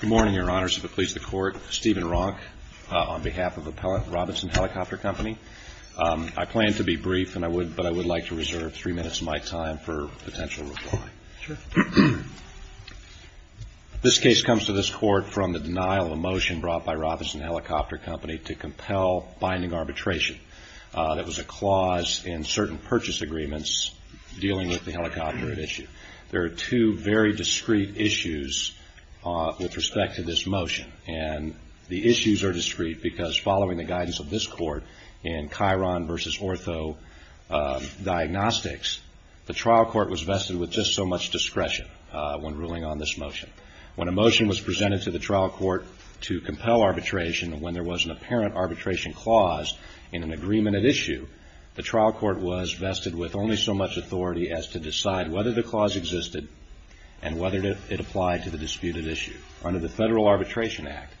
Good morning, Your Honors. If it pleases the Court, Stephen Ronk, on behalf of Appellate Robinson Helicopter Company. I plan to be brief, but I would like to reserve three minutes of my time for potential reply. Sure. This case comes to this Court from the denial of a motion brought by Robinson Helicopter Company to compel binding arbitration that was a clause in certain purchase agreements dealing with the helicopter at issue. There are two very discreet issues with respect to this motion, and the issues are discreet because following the guidance of this Court in Chiron v. Ortho Diagnostics, the trial court was vested with just so much discretion when ruling on this motion. When a motion was presented to the trial court to compel arbitration, when there was an apparent arbitration clause in an agreement at issue, the trial court was vested with only so much authority as to decide whether the clause existed and whether it applied to the disputed issue. Under the Federal Arbitration Act,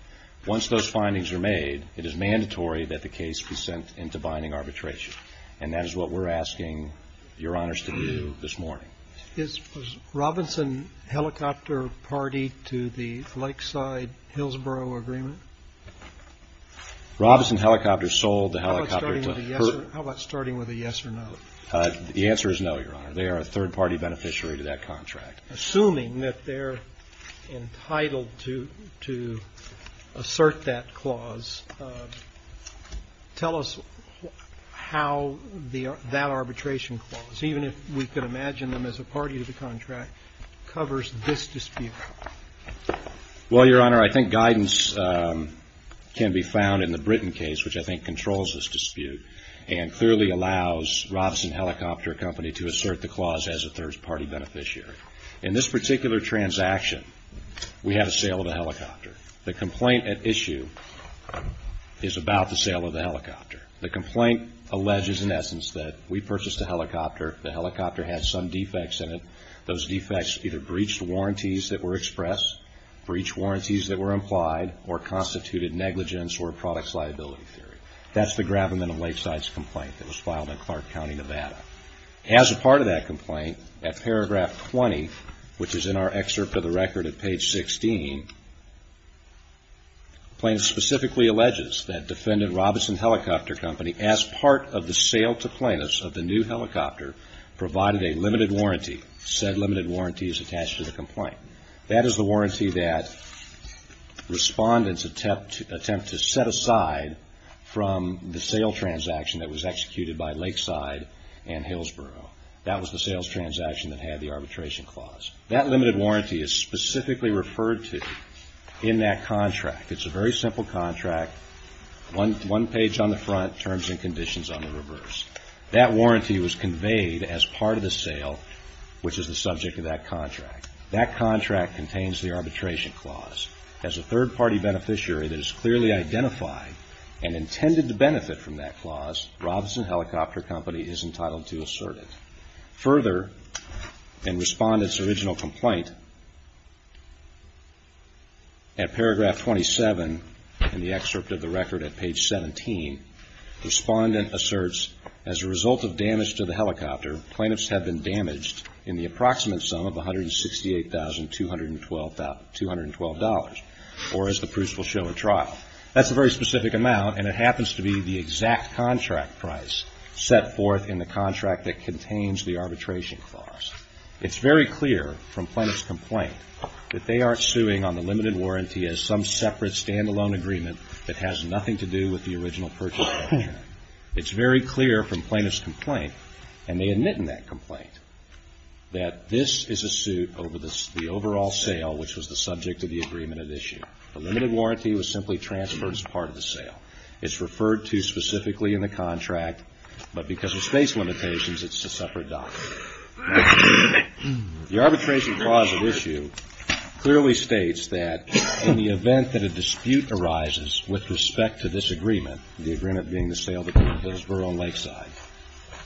once those findings are made, it is mandatory that the case be sent into binding arbitration, and that is what we're asking Your Honors to do this morning. Is Robinson Helicopter Party to the Lakeside-Hillsborough Agreement? Robinson Helicopter sold the helicopter to Perth. How about starting with a yes or no? The answer is no, Your Honor. They are a third-party beneficiary to that contract. Assuming that they're entitled to assert that clause, tell us how that arbitration clause, even if we could imagine them as a party to the contract, covers this dispute. Well, Your Honor, I think guidance can be found in the Britton case, which I think controls this dispute and clearly allows Robinson Helicopter Company to assert the clause as a third-party beneficiary. In this particular transaction, we have a sale of a helicopter. The complaint at issue is about the sale of the helicopter. The complaint alleges, in essence, that we purchased a helicopter. The helicopter had some defects in it. Those defects either breached warranties that were expressed, breached warranties that were implied, or constituted negligence or a product's liability theory. That's the Gravamen and Lakeside's complaint that was filed in Clark County, Nevada. As a part of that complaint, at paragraph 20, which is in our excerpt of the record at page 16, plaintiff specifically alleges that defendant Robinson Helicopter Company, as part of the sale to plaintiffs of the new helicopter, provided a limited warranty. Said limited warranty is attached to the complaint. That is the warranty that respondents attempt to set aside from the sale transaction that was executed by Lakeside and Hillsboro. That was the sales transaction that had the arbitration clause. That limited warranty is specifically referred to in that contract. It's a very simple contract, one page on the front, terms and conditions on the reverse. That warranty was conveyed as part of the sale, which is the subject of that contract. That contract contains the arbitration clause. As a third-party beneficiary that is clearly identified and intended to benefit from that clause, Robinson Helicopter Company is entitled to assert it. Further, in respondent's original complaint, at paragraph 27 in the excerpt of the record at page 17, respondent asserts, as a result of damage to the helicopter, plaintiffs have been damaged in the approximate sum of $168,212, or as the proofs will show, a trial. That's a very specific amount, and it happens to be the exact contract price set forth in the contract that contains the arbitration clause. It's very clear from plaintiff's complaint that they aren't suing on the limited warranty as some separate stand-alone agreement that has nothing to do with the original purchase contract. It's very clear from plaintiff's complaint, and they admit in that complaint, that this is a suit over the overall sale, which was the subject of the agreement at issue. The limited warranty was simply transferred as part of the sale. It's referred to specifically in the contract, but because of space limitations, it's a separate document. The arbitration clause at issue clearly states that in the event that a dispute arises with respect to this agreement, the agreement being the sale between Hillsborough and Lakeside,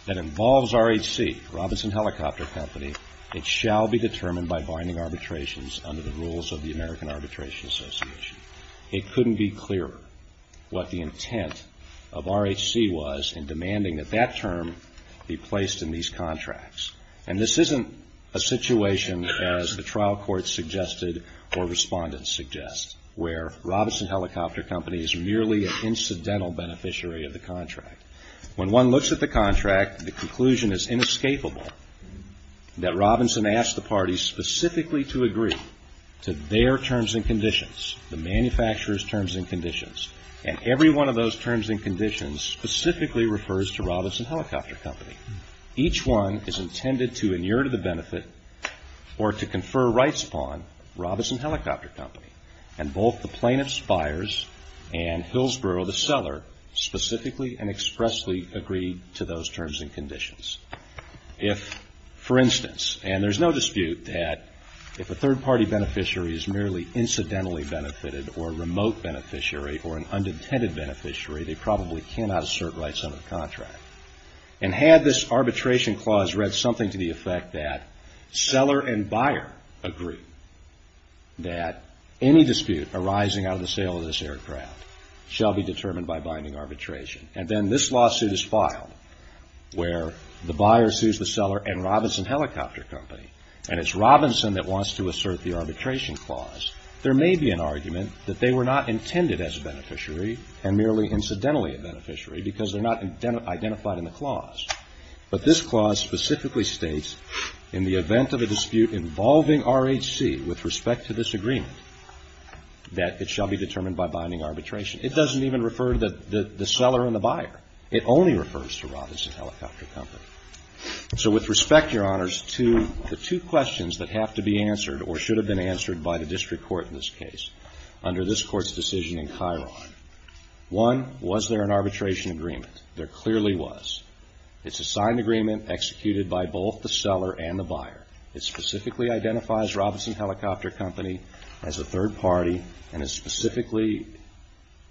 that involves RHC, Robinson Helicopter Company, it shall be determined by binding arbitrations under the rules of the American Arbitration Association. It couldn't be clearer what the intent of RHC was in demanding that that term be placed in these contracts. And this isn't a situation, as the trial court suggested or respondents suggest, where Robinson Helicopter Company is merely an incidental beneficiary of the contract. When one looks at the contract, the conclusion is inescapable that Robinson asked the parties specifically to agree to their terms and conditions, the manufacturer's terms and conditions. And every one of those terms and conditions specifically refers to Robinson Helicopter Company. Each one is intended to inure to the benefit or to confer rights upon Robinson Helicopter Company. And both the plaintiffs, buyers, and Hillsborough, the seller, specifically and expressly agreed to those terms and conditions. If, for instance, and there's no dispute that if a third-party beneficiary is merely incidentally benefited or a remote beneficiary or an unintended beneficiary, they probably cannot assert rights under the contract. And had this arbitration clause read something to the effect that seller and buyer agree that any dispute arising out of the sale of this aircraft shall be determined by binding arbitration, and then this lawsuit is filed where the buyer sues the seller and Robinson Helicopter Company, and it's Robinson that wants to assert the arbitration clause, there may be an argument that they were not intended as a beneficiary and merely incidentally a beneficiary because they're not identified in the clause. But this clause specifically states in the event of a dispute involving RHC with respect to this agreement that it shall be determined by binding arbitration. It doesn't even refer to the seller and the buyer. It only refers to Robinson Helicopter Company. So with respect, Your Honors, to the two questions that have to be answered or should have been answered by the district court in this case under this Court's decision in Chiron. One, was there an arbitration agreement? There clearly was. It's a signed agreement executed by both the seller and the buyer. It specifically identifies Robinson Helicopter Company as a third party and it specifically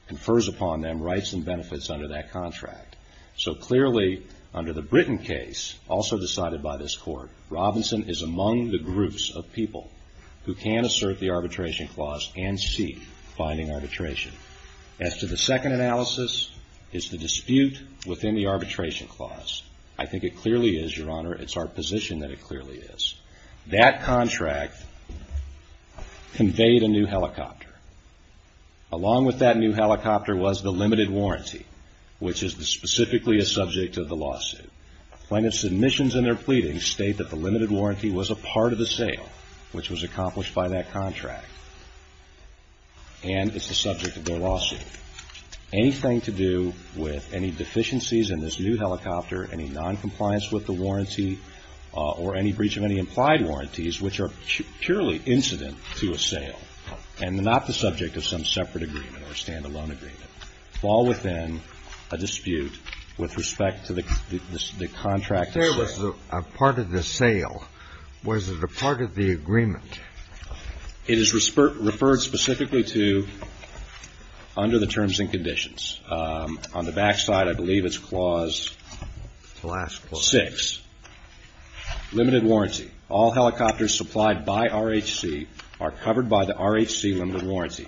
confers upon them rights and benefits under that contract. So clearly under the Britton case, also decided by this Court, Robinson is among the groups of people who can assert the arbitration clause and seek binding arbitration. As to the second analysis, it's the dispute within the arbitration clause. I think it clearly is, Your Honor, it's our position that it clearly is. That contract conveyed a new helicopter. Along with that new helicopter was the limited warranty, which is specifically a subject of the lawsuit. Plaintiff's submissions in their pleading state that the limited warranty was a part of the sale, which was accomplished by that contract, and it's the subject of their lawsuit. Anything to do with any deficiencies in this new helicopter, any noncompliance with the warranty or any breach of any implied warranties which are purely incident to a sale and not the subject of some separate agreement or standalone agreement fall within a dispute with respect to the contract itself. There was a part of the sale. Was it a part of the agreement? It is referred specifically to under the terms and conditions. On the back side, I believe it's clause 6. Limited warranty. All helicopters supplied by RHC are covered by the RHC limited warranty.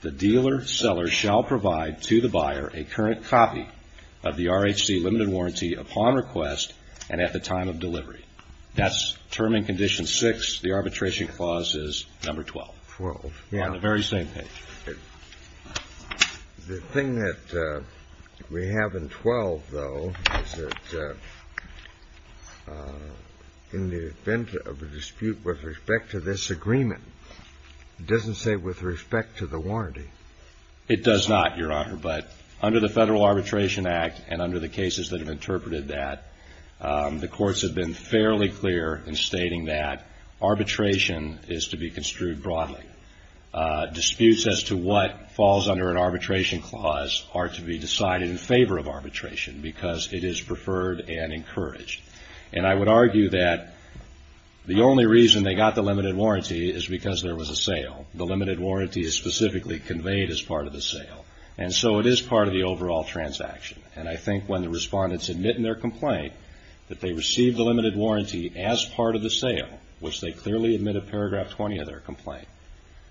The dealer seller shall provide to the buyer a current copy of the RHC limited warranty upon request and at the time of delivery. That's term and condition 6. The arbitration clause is number 12. On the very same page. The thing that we have in 12, though, is that in the event of a dispute with respect to this agreement, it doesn't say with respect to the warranty. It does not, Your Honor, but under the Federal Arbitration Act and under the cases that have interpreted that, the courts have been fairly clear in stating that arbitration is to be construed broadly. Disputes as to what falls under an arbitration clause are to be decided in favor of arbitration because it is preferred and encouraged. And I would argue that the only reason they got the limited warranty is because there was a sale. The limited warranty is specifically conveyed as part of the sale. And so it is part of the overall transaction. And I think when the respondents admit in their complaint that they received the limited warranty as part of the sale, which they clearly admit in paragraph 20 of their complaint,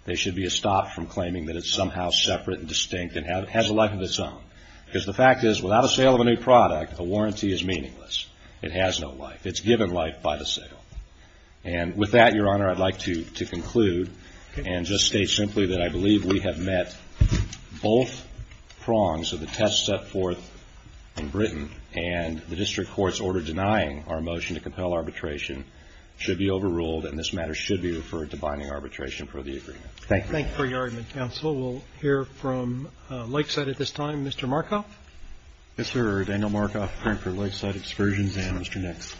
there should be a stop from claiming that it's somehow separate and distinct and has a life of its own. Because the fact is, without a sale of a new product, a warranty is meaningless. It has no life. It's given life by the sale. And with that, Your Honor, I'd like to conclude and just state simply that I believe we have met both prongs of the test set forth in Britain and the district court's order denying our motion to compel arbitration should be overruled and this matter should be referred to binding arbitration for the agreement. Thank you. Thank you for your argument, counsel. We'll hear from Lakeside at this time. Mr. Markoff. Yes, sir. Daniel Markoff, Frankford Lakeside Excursions and Mr. Nix.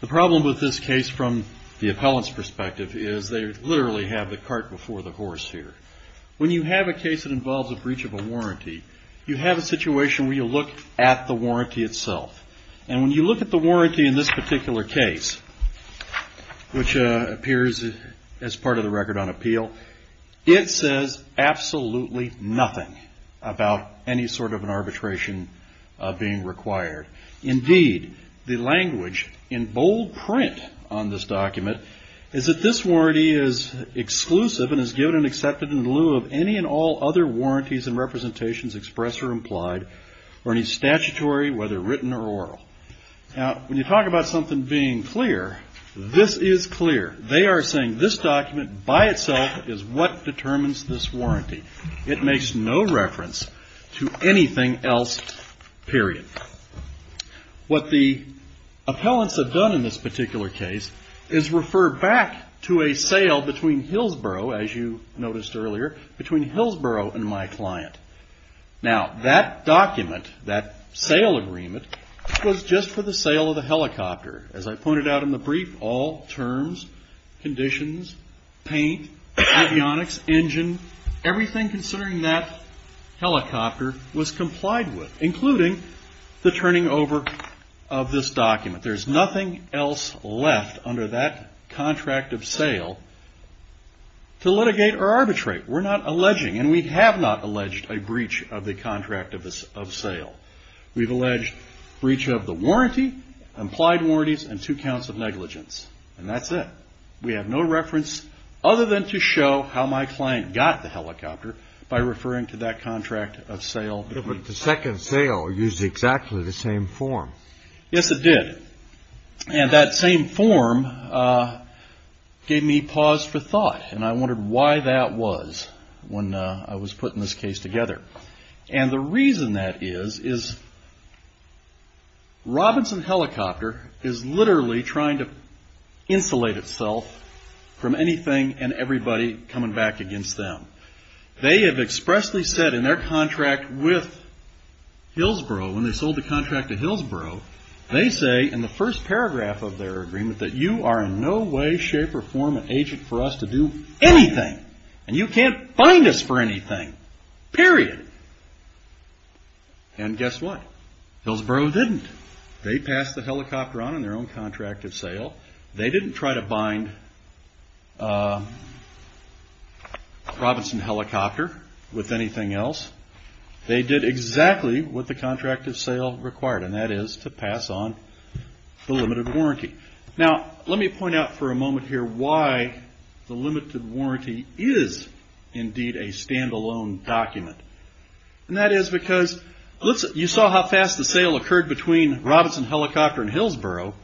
The problem with this case from the appellant's perspective is they literally have the cart before the horse here. When you have a case that involves a breach of a warranty, you have a situation where you look at the warranty itself. And when you look at the warranty in this particular case, which appears as part of the record on appeal, it says absolutely nothing about any sort of an arbitration being required. Indeed, the language in bold print on this document is that this warranty is exclusive and is given and accepted in lieu of any and all other warranties and representations expressed or implied or any statutory, whether written or oral. Now, when you talk about something being clear, this is clear. They are saying this document by itself is what determines this warranty. It makes no reference to anything else, period. What the appellants have done in this particular case is refer back to a sale between Hillsborough, as you noticed earlier, between Hillsborough and my client. Now, that document, that sale agreement, was just for the sale of the helicopter. As I pointed out in the brief, all terms, conditions, paint, avionics, engine, everything considering that helicopter was complied with, including the turning over of this document. There's nothing else left under that contract of sale to litigate or arbitrate. We're not alleging, and we have not alleged a breach of the contract of sale. We've alleged breach of the warranty, implied warranties, and two counts of negligence. And that's it. We have no reference other than to show how my client got the helicopter by referring to that contract of sale. But the second sale used exactly the same form. Yes, it did. And that same form gave me pause for thought, and I wondered why that was when I was putting this case together. And the reason that is, is Robinson Helicopter is literally trying to insulate itself from anything and everybody coming back against them. They have expressly said in their contract with Hillsborough, when they sold the contract to Hillsborough, they say in the first paragraph of their agreement that you are in no way, shape, or form an agent for us to do anything. And you can't bind us for anything, period. And guess what? Hillsborough didn't. They passed the helicopter on in their own contract of sale. They didn't try to bind Robinson Helicopter with anything else. They did exactly what the contract of sale required, and that is to pass on the limited warranty. Now, let me point out for a moment here why the limited warranty is indeed a stand-alone document. And that is because you saw how fast the sale occurred between Robinson Helicopter and Hillsborough.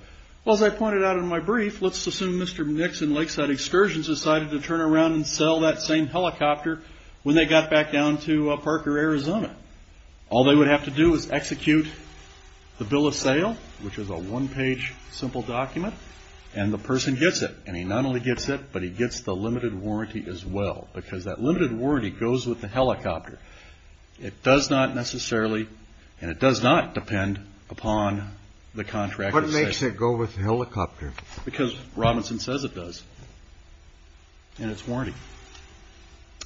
Well, as I pointed out in my brief, let's assume Mr. Nix and Lakeside Excursions decided to turn around and sell that same helicopter when they got back down to Parker, Arizona. All they would have to do is execute the bill of sale, which is a one-page simple document, and the person gets it. And he not only gets it, but he gets the limited warranty as well, because that limited warranty goes with the helicopter. It does not necessarily, and it does not depend upon the contract of sale. What makes it go with the helicopter? Because Robinson says it does in its warranty.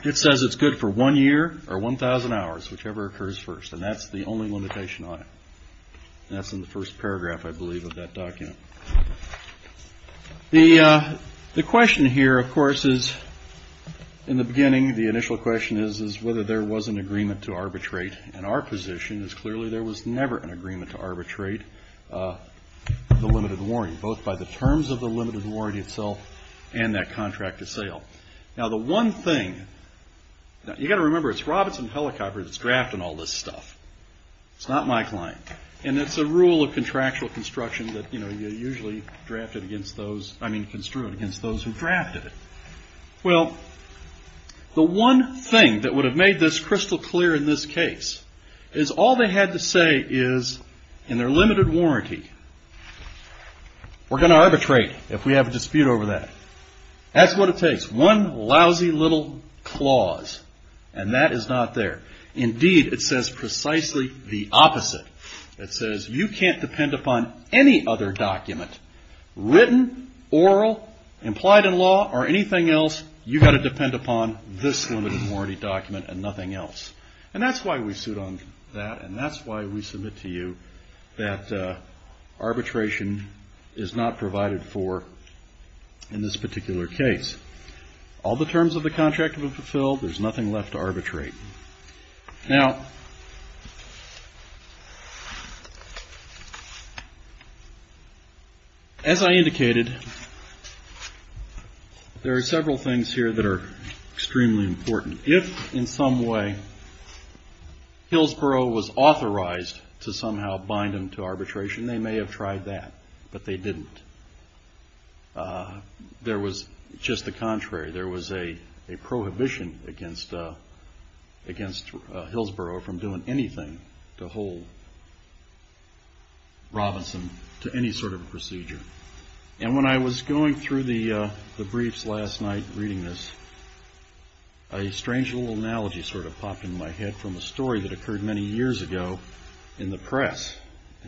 It says it's good for one year or 1,000 hours, whichever occurs first, and that's the only limitation on it. And that's in the first paragraph, I believe, of that document. The question here, of course, is in the beginning, the initial question is whether there was an agreement to arbitrate. And our position is clearly there was never an agreement to arbitrate the limited warranty, both by the terms of the limited warranty itself and that contract of sale. Now, the one thing, you've got to remember, it's Robinson Helicopter that's drafting all this stuff. It's not my client. And it's a rule of contractual construction that you're usually drafted against those, I mean, construed against those who drafted it. Well, the one thing that would have made this crystal clear in this case is all they had to say is, in their limited warranty, we're going to arbitrate if we have a dispute over that. That's what it takes, one lousy little clause, and that is not there. Indeed, it says precisely the opposite. It says you can't depend upon any other document, written, oral, implied in law, or anything else. You've got to depend upon this limited warranty document and nothing else. And that's why we suit on that, and that's why we submit to you that arbitration is not provided for in this particular case. All the terms of the contract have been fulfilled. There's nothing left to arbitrate. Now, as I indicated, there are several things here that are extremely important. If, in some way, Hillsborough was authorized to somehow bind them to arbitration, they may have tried that, but they didn't. There was just the contrary. There was a prohibition against Hillsborough from doing anything to hold Robinson to any sort of procedure. And when I was going through the briefs last night reading this, a strange little analogy sort of popped into my head from a story that occurred many years ago in the press.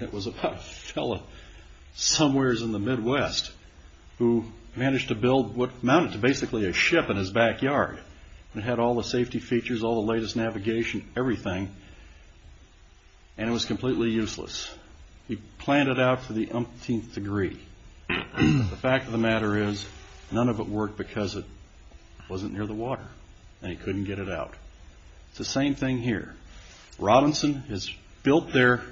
It was about a fellow somewhere in the Midwest who managed to build what amounted to basically a ship in his backyard. It had all the safety features, all the latest navigation, everything, and it was completely useless. He planned it out to the umpteenth degree. The fact of the matter is none of it worked because it wasn't near the water and he couldn't get it out. It's the same thing here. Robinson has built their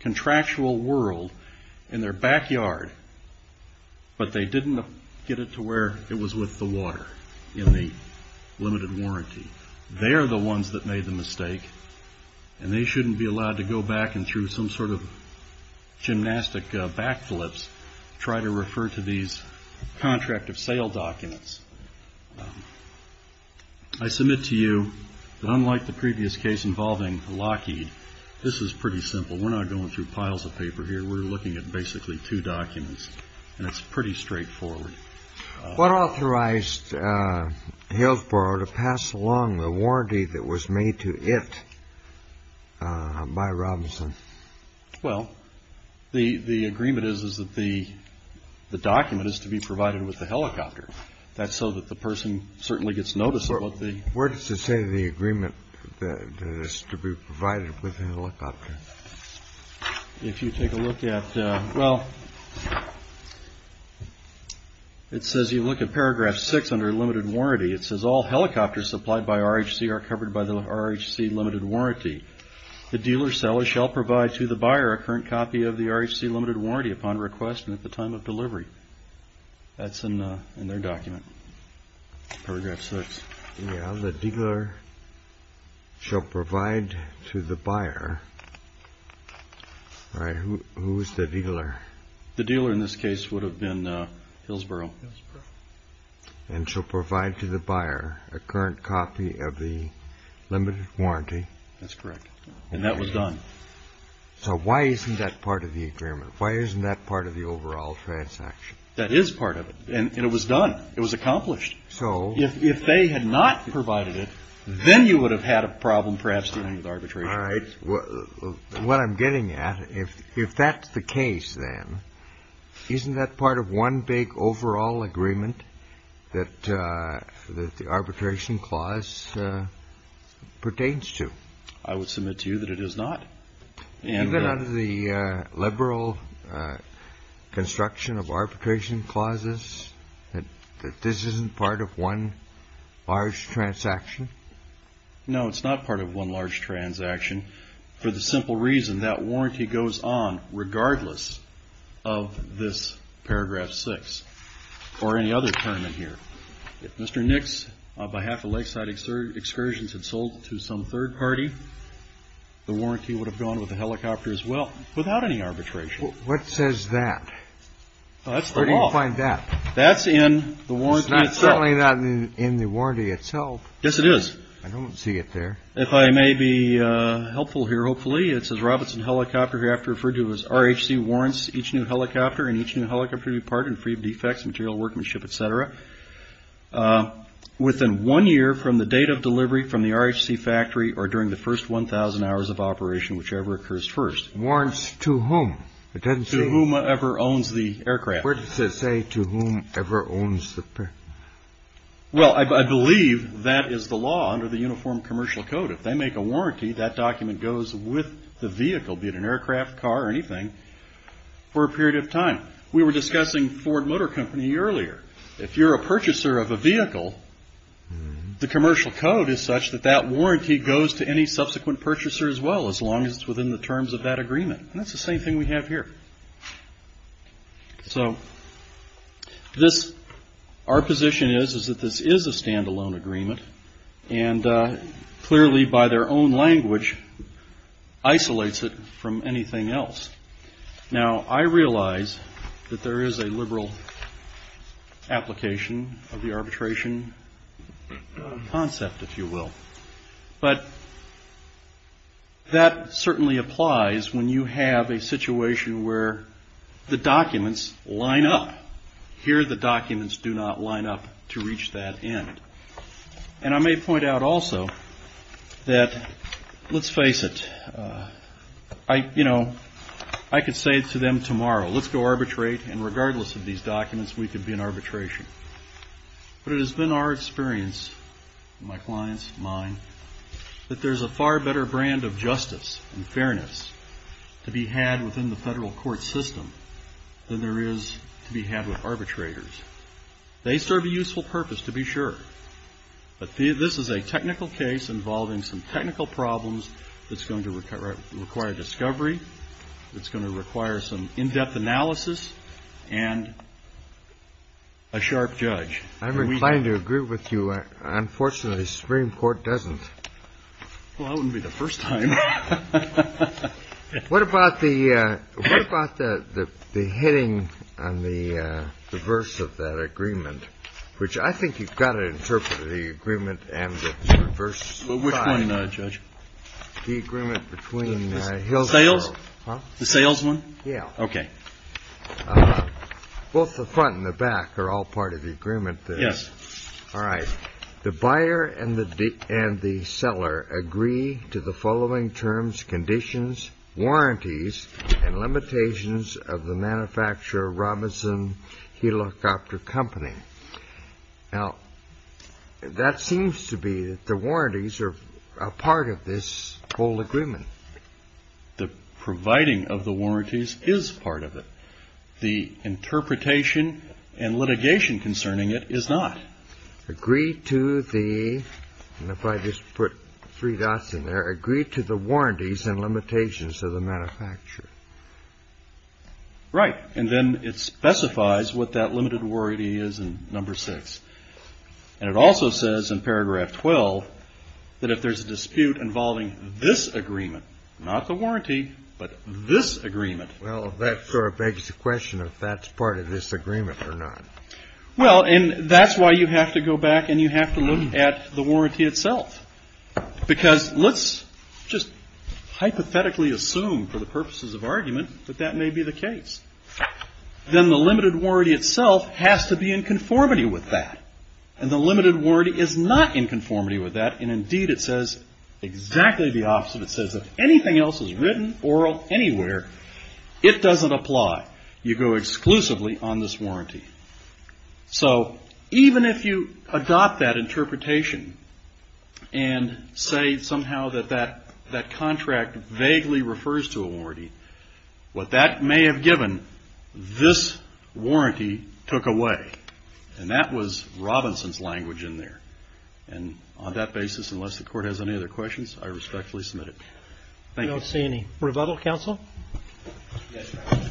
contractual world in their backyard, but they didn't get it to where it was with the water in the limited warranty. They're the ones that made the mistake, and they shouldn't be allowed to go back and through some sort of gymnastic backflips to try to refer to these contract of sale documents. I submit to you that unlike the previous case involving Lockheed, this is pretty simple. We're not going through piles of paper here. We're looking at basically two documents, and it's pretty straightforward. What authorized Hillsborough to pass along the warranty that was made to it by Robinson? Well, the agreement is that the document is to be provided with the helicopter. That's so that the person certainly gets notice of what the— Where does it say the agreement that it's to be provided with the helicopter? If you take a look at—well, it says you look at paragraph 6 under limited warranty. It says all helicopters supplied by RHC are covered by the RHC limited warranty. The dealer seller shall provide to the buyer a current copy of the RHC limited warranty upon request and at the time of delivery. That's in their document, paragraph 6. Yeah, the dealer shall provide to the buyer. All right, who is the dealer? The dealer in this case would have been Hillsborough. And shall provide to the buyer a current copy of the limited warranty. That's correct, and that was done. So why isn't that part of the agreement? Why isn't that part of the overall transaction? That is part of it, and it was done. It was accomplished. So— If they had not provided it, then you would have had a problem perhaps dealing with arbitration. All right, what I'm getting at, if that's the case, then, isn't that part of one big overall agreement that the arbitration clause pertains to? I would submit to you that it is not. And— Is it out of the liberal construction of arbitration clauses that this isn't part of one large transaction? No, it's not part of one large transaction for the simple reason that warranty goes on regardless of this paragraph 6 or any other term in here. If Mr. Nix, on behalf of Lakeside Excursions, had sold to some third party, the warranty would have gone with the helicopter as well, without any arbitration. What says that? That's the law. Where do you find that? That's in the warranty itself. It's certainly not in the warranty itself. Yes, it is. I don't see it there. If I may be helpful here, hopefully, it says, Mr. Robinson, helicopter hereafter referred to as RHC, warrants each new helicopter and each new helicopter to be part and free of defects, material workmanship, et cetera, within one year from the date of delivery from the RHC factory or during the first 1,000 hours of operation, whichever occurs first. Warrants to whom? To whomever owns the aircraft. Where does it say to whomever owns the— Well, I believe that is the law under the Uniform Commercial Code. If they make a warranty, that document goes with the vehicle, be it an aircraft, car, or anything, for a period of time. We were discussing Ford Motor Company earlier. If you're a purchaser of a vehicle, the commercial code is such that that warranty goes to any subsequent purchaser as well, as long as it's within the terms of that agreement. And that's the same thing we have here. So this—our position is that this is a stand-alone agreement, and clearly by their own language isolates it from anything else. Now, I realize that there is a liberal application of the arbitration concept, if you will, but that certainly applies when you have a situation where the documents line up. Here, the documents do not line up to reach that end. And I may point out also that, let's face it, I could say to them tomorrow, let's go arbitrate, and regardless of these documents, we could be in arbitration. But it has been our experience, my client's, mine, that there's a far better brand of justice and fairness to be had within the federal court system than there is to be had with arbitrators. They serve a useful purpose, to be sure, but this is a technical case involving some technical problems that's going to require discovery, that's going to require some in-depth analysis and a sharp judge. I'm inclined to agree with you. Unfortunately, the Supreme Court doesn't. Well, that wouldn't be the first time. What about the hitting on the verse of that agreement, which I think you've got to interpret the agreement and the verse 5. Which one, Judge? The agreement between Hillsborough. The sales one? Yeah. Okay. Both the front and the back are all part of the agreement. Yes. All right. The buyer and the seller agree to the following terms, conditions, warranties and limitations of the manufacturer Robinson Helicopter Company. Now, that seems to be that the warranties are part of this whole agreement. The providing of the warranties is part of it. The interpretation and litigation concerning it is not. Agree to the, and if I just put three dots in there, agree to the warranties and limitations of the manufacturer. Right. And then it specifies what that limited warranty is in number six. And it also says in paragraph 12, that if there's a dispute involving this agreement, not the warranty, but this agreement. Well, that sort of begs the question of that's part of this agreement or not. Well, and that's why you have to go back and you have to look at the warranty itself, because let's just hypothetically assume for the purposes of argument that that may be the case. Then the limited warranty itself has to be in conformity with that. And the limited warranty is not in conformity with that. And indeed it says exactly the opposite. It says if anything else is written oral anywhere, it doesn't apply. You go exclusively on this warranty. So even if you adopt that interpretation and say somehow that that, that contract vaguely refers to a warranty, what that may have given this warranty took away. And that was Robinson's language in there. And on that basis, unless the court has any other questions, I respectfully submit it. Thank you. I don't see any rebuttal counsel. Yes, Your Honor.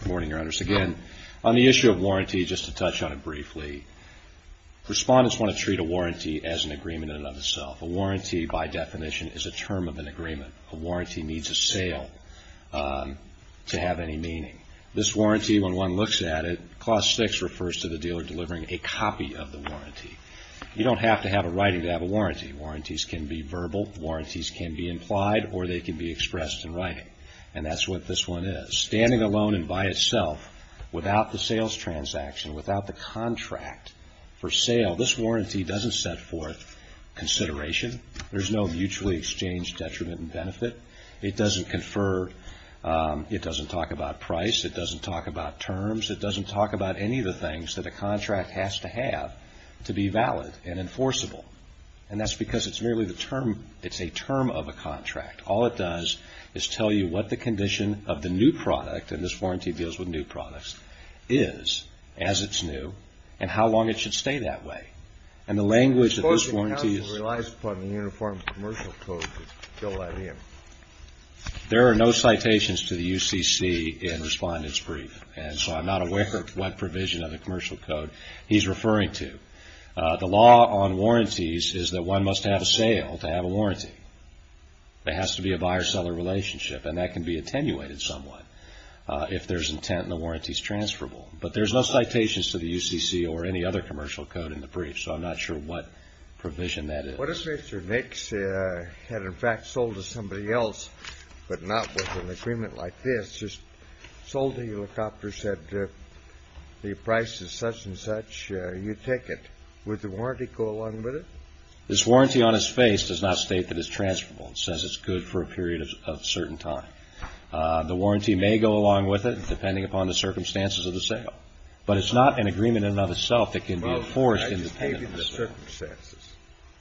Good morning, Your Honors. Again, on the issue of warranty, just to touch on it briefly. Respondents want to treat a warranty as an agreement in and of itself. A warranty by definition is a term of an agreement. A warranty needs a sale to have any meaning. This warranty, when one looks at it, Clause 6 refers to the dealer delivering a copy of the warranty. You don't have to have a writing to have a warranty. Warranties can be verbal. Warranties can be implied. Or they can be expressed in writing. And that's what this one is. Standing alone and by itself without the sales transaction, without the contract for sale, this warranty doesn't set forth consideration. There's no mutually exchanged detriment and benefit. It doesn't confer. It doesn't talk about price. It doesn't talk about terms. It doesn't talk about any of the things that a contract has to have to be valid and enforceable. And that's because it's merely the term. It's a term of a contract. All it does is tell you what the condition of the new product, and this warranty deals with new products, is as it's new and how long it should stay that way. And the language of this warranty is. I suppose the counsel relies upon the Uniform Commercial Code to fill that in. There are no citations to the UCC in Respondent's Brief, and so I'm not aware of what provision of the Commercial Code he's referring to. The law on warranties is that one must have a sale to have a warranty. There has to be a buyer-seller relationship, and that can be attenuated somewhat if there's intent and the warranty's transferable. But there's no citations to the UCC or any other commercial code in the brief, so I'm not sure what provision that is. What if Mr. Nix had, in fact, sold to somebody else but not with an agreement like this, just sold the helicopter, said the price is such and such, you take it. Would the warranty go along with it? This warranty on his face does not state that it's transferable. It says it's good for a period of certain time. The warranty may go along with it depending upon the circumstances of the sale, but it's not an agreement in and of itself that can be enforced independently.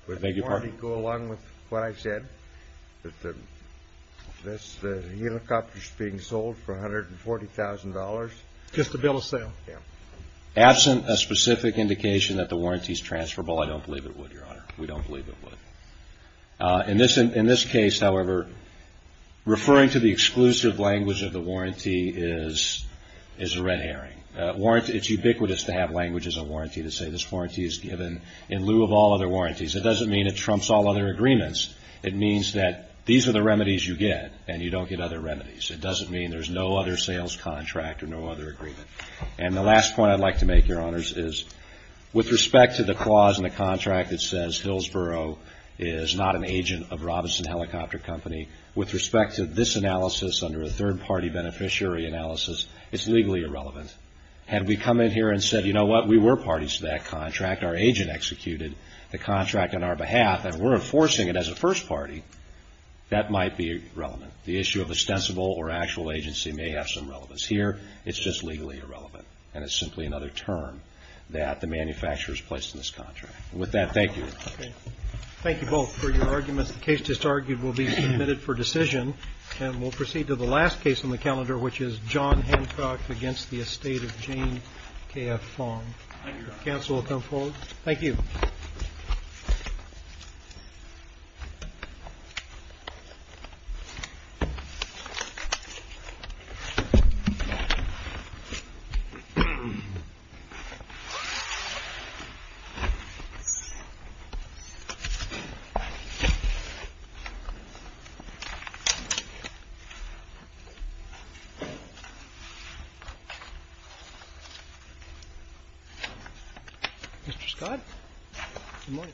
Would the warranty go along with what I said, that the helicopter's being sold for $140,000? Just the bill of sale. Yeah. Absent a specific indication that the warranty's transferable, I don't believe it would, Your Honor. We don't believe it would. In this case, however, referring to the exclusive language of the warranty is a red herring. It's ubiquitous to have language as a warranty to say this warranty is given in lieu of all other warranties. It doesn't mean it trumps all other agreements. It means that these are the remedies you get and you don't get other remedies. It doesn't mean there's no other sales contract or no other agreement. And the last point I'd like to make, Your Honors, is with respect to the clause in the contract that says Hillsborough is not an agent of Robinson Helicopter Company, with respect to this analysis under a third-party beneficiary analysis, it's legally irrelevant. Had we come in here and said, you know what, we were parties to that contract, our agent executed the contract on our behalf, and we're enforcing it as a first party, that might be irrelevant. The issue of ostensible or actual agency may have some relevance here. It's just legally irrelevant. And it's simply another term that the manufacturer's placed in this contract. And with that, thank you. Thank you both for your arguments. The case just argued will be submitted for decision. And we'll proceed to the last case on the calendar, which is John Hancock against the estate of Jane K.F. Fong. Counsel will come forward. Thank you. Mr. Scott? Good morning.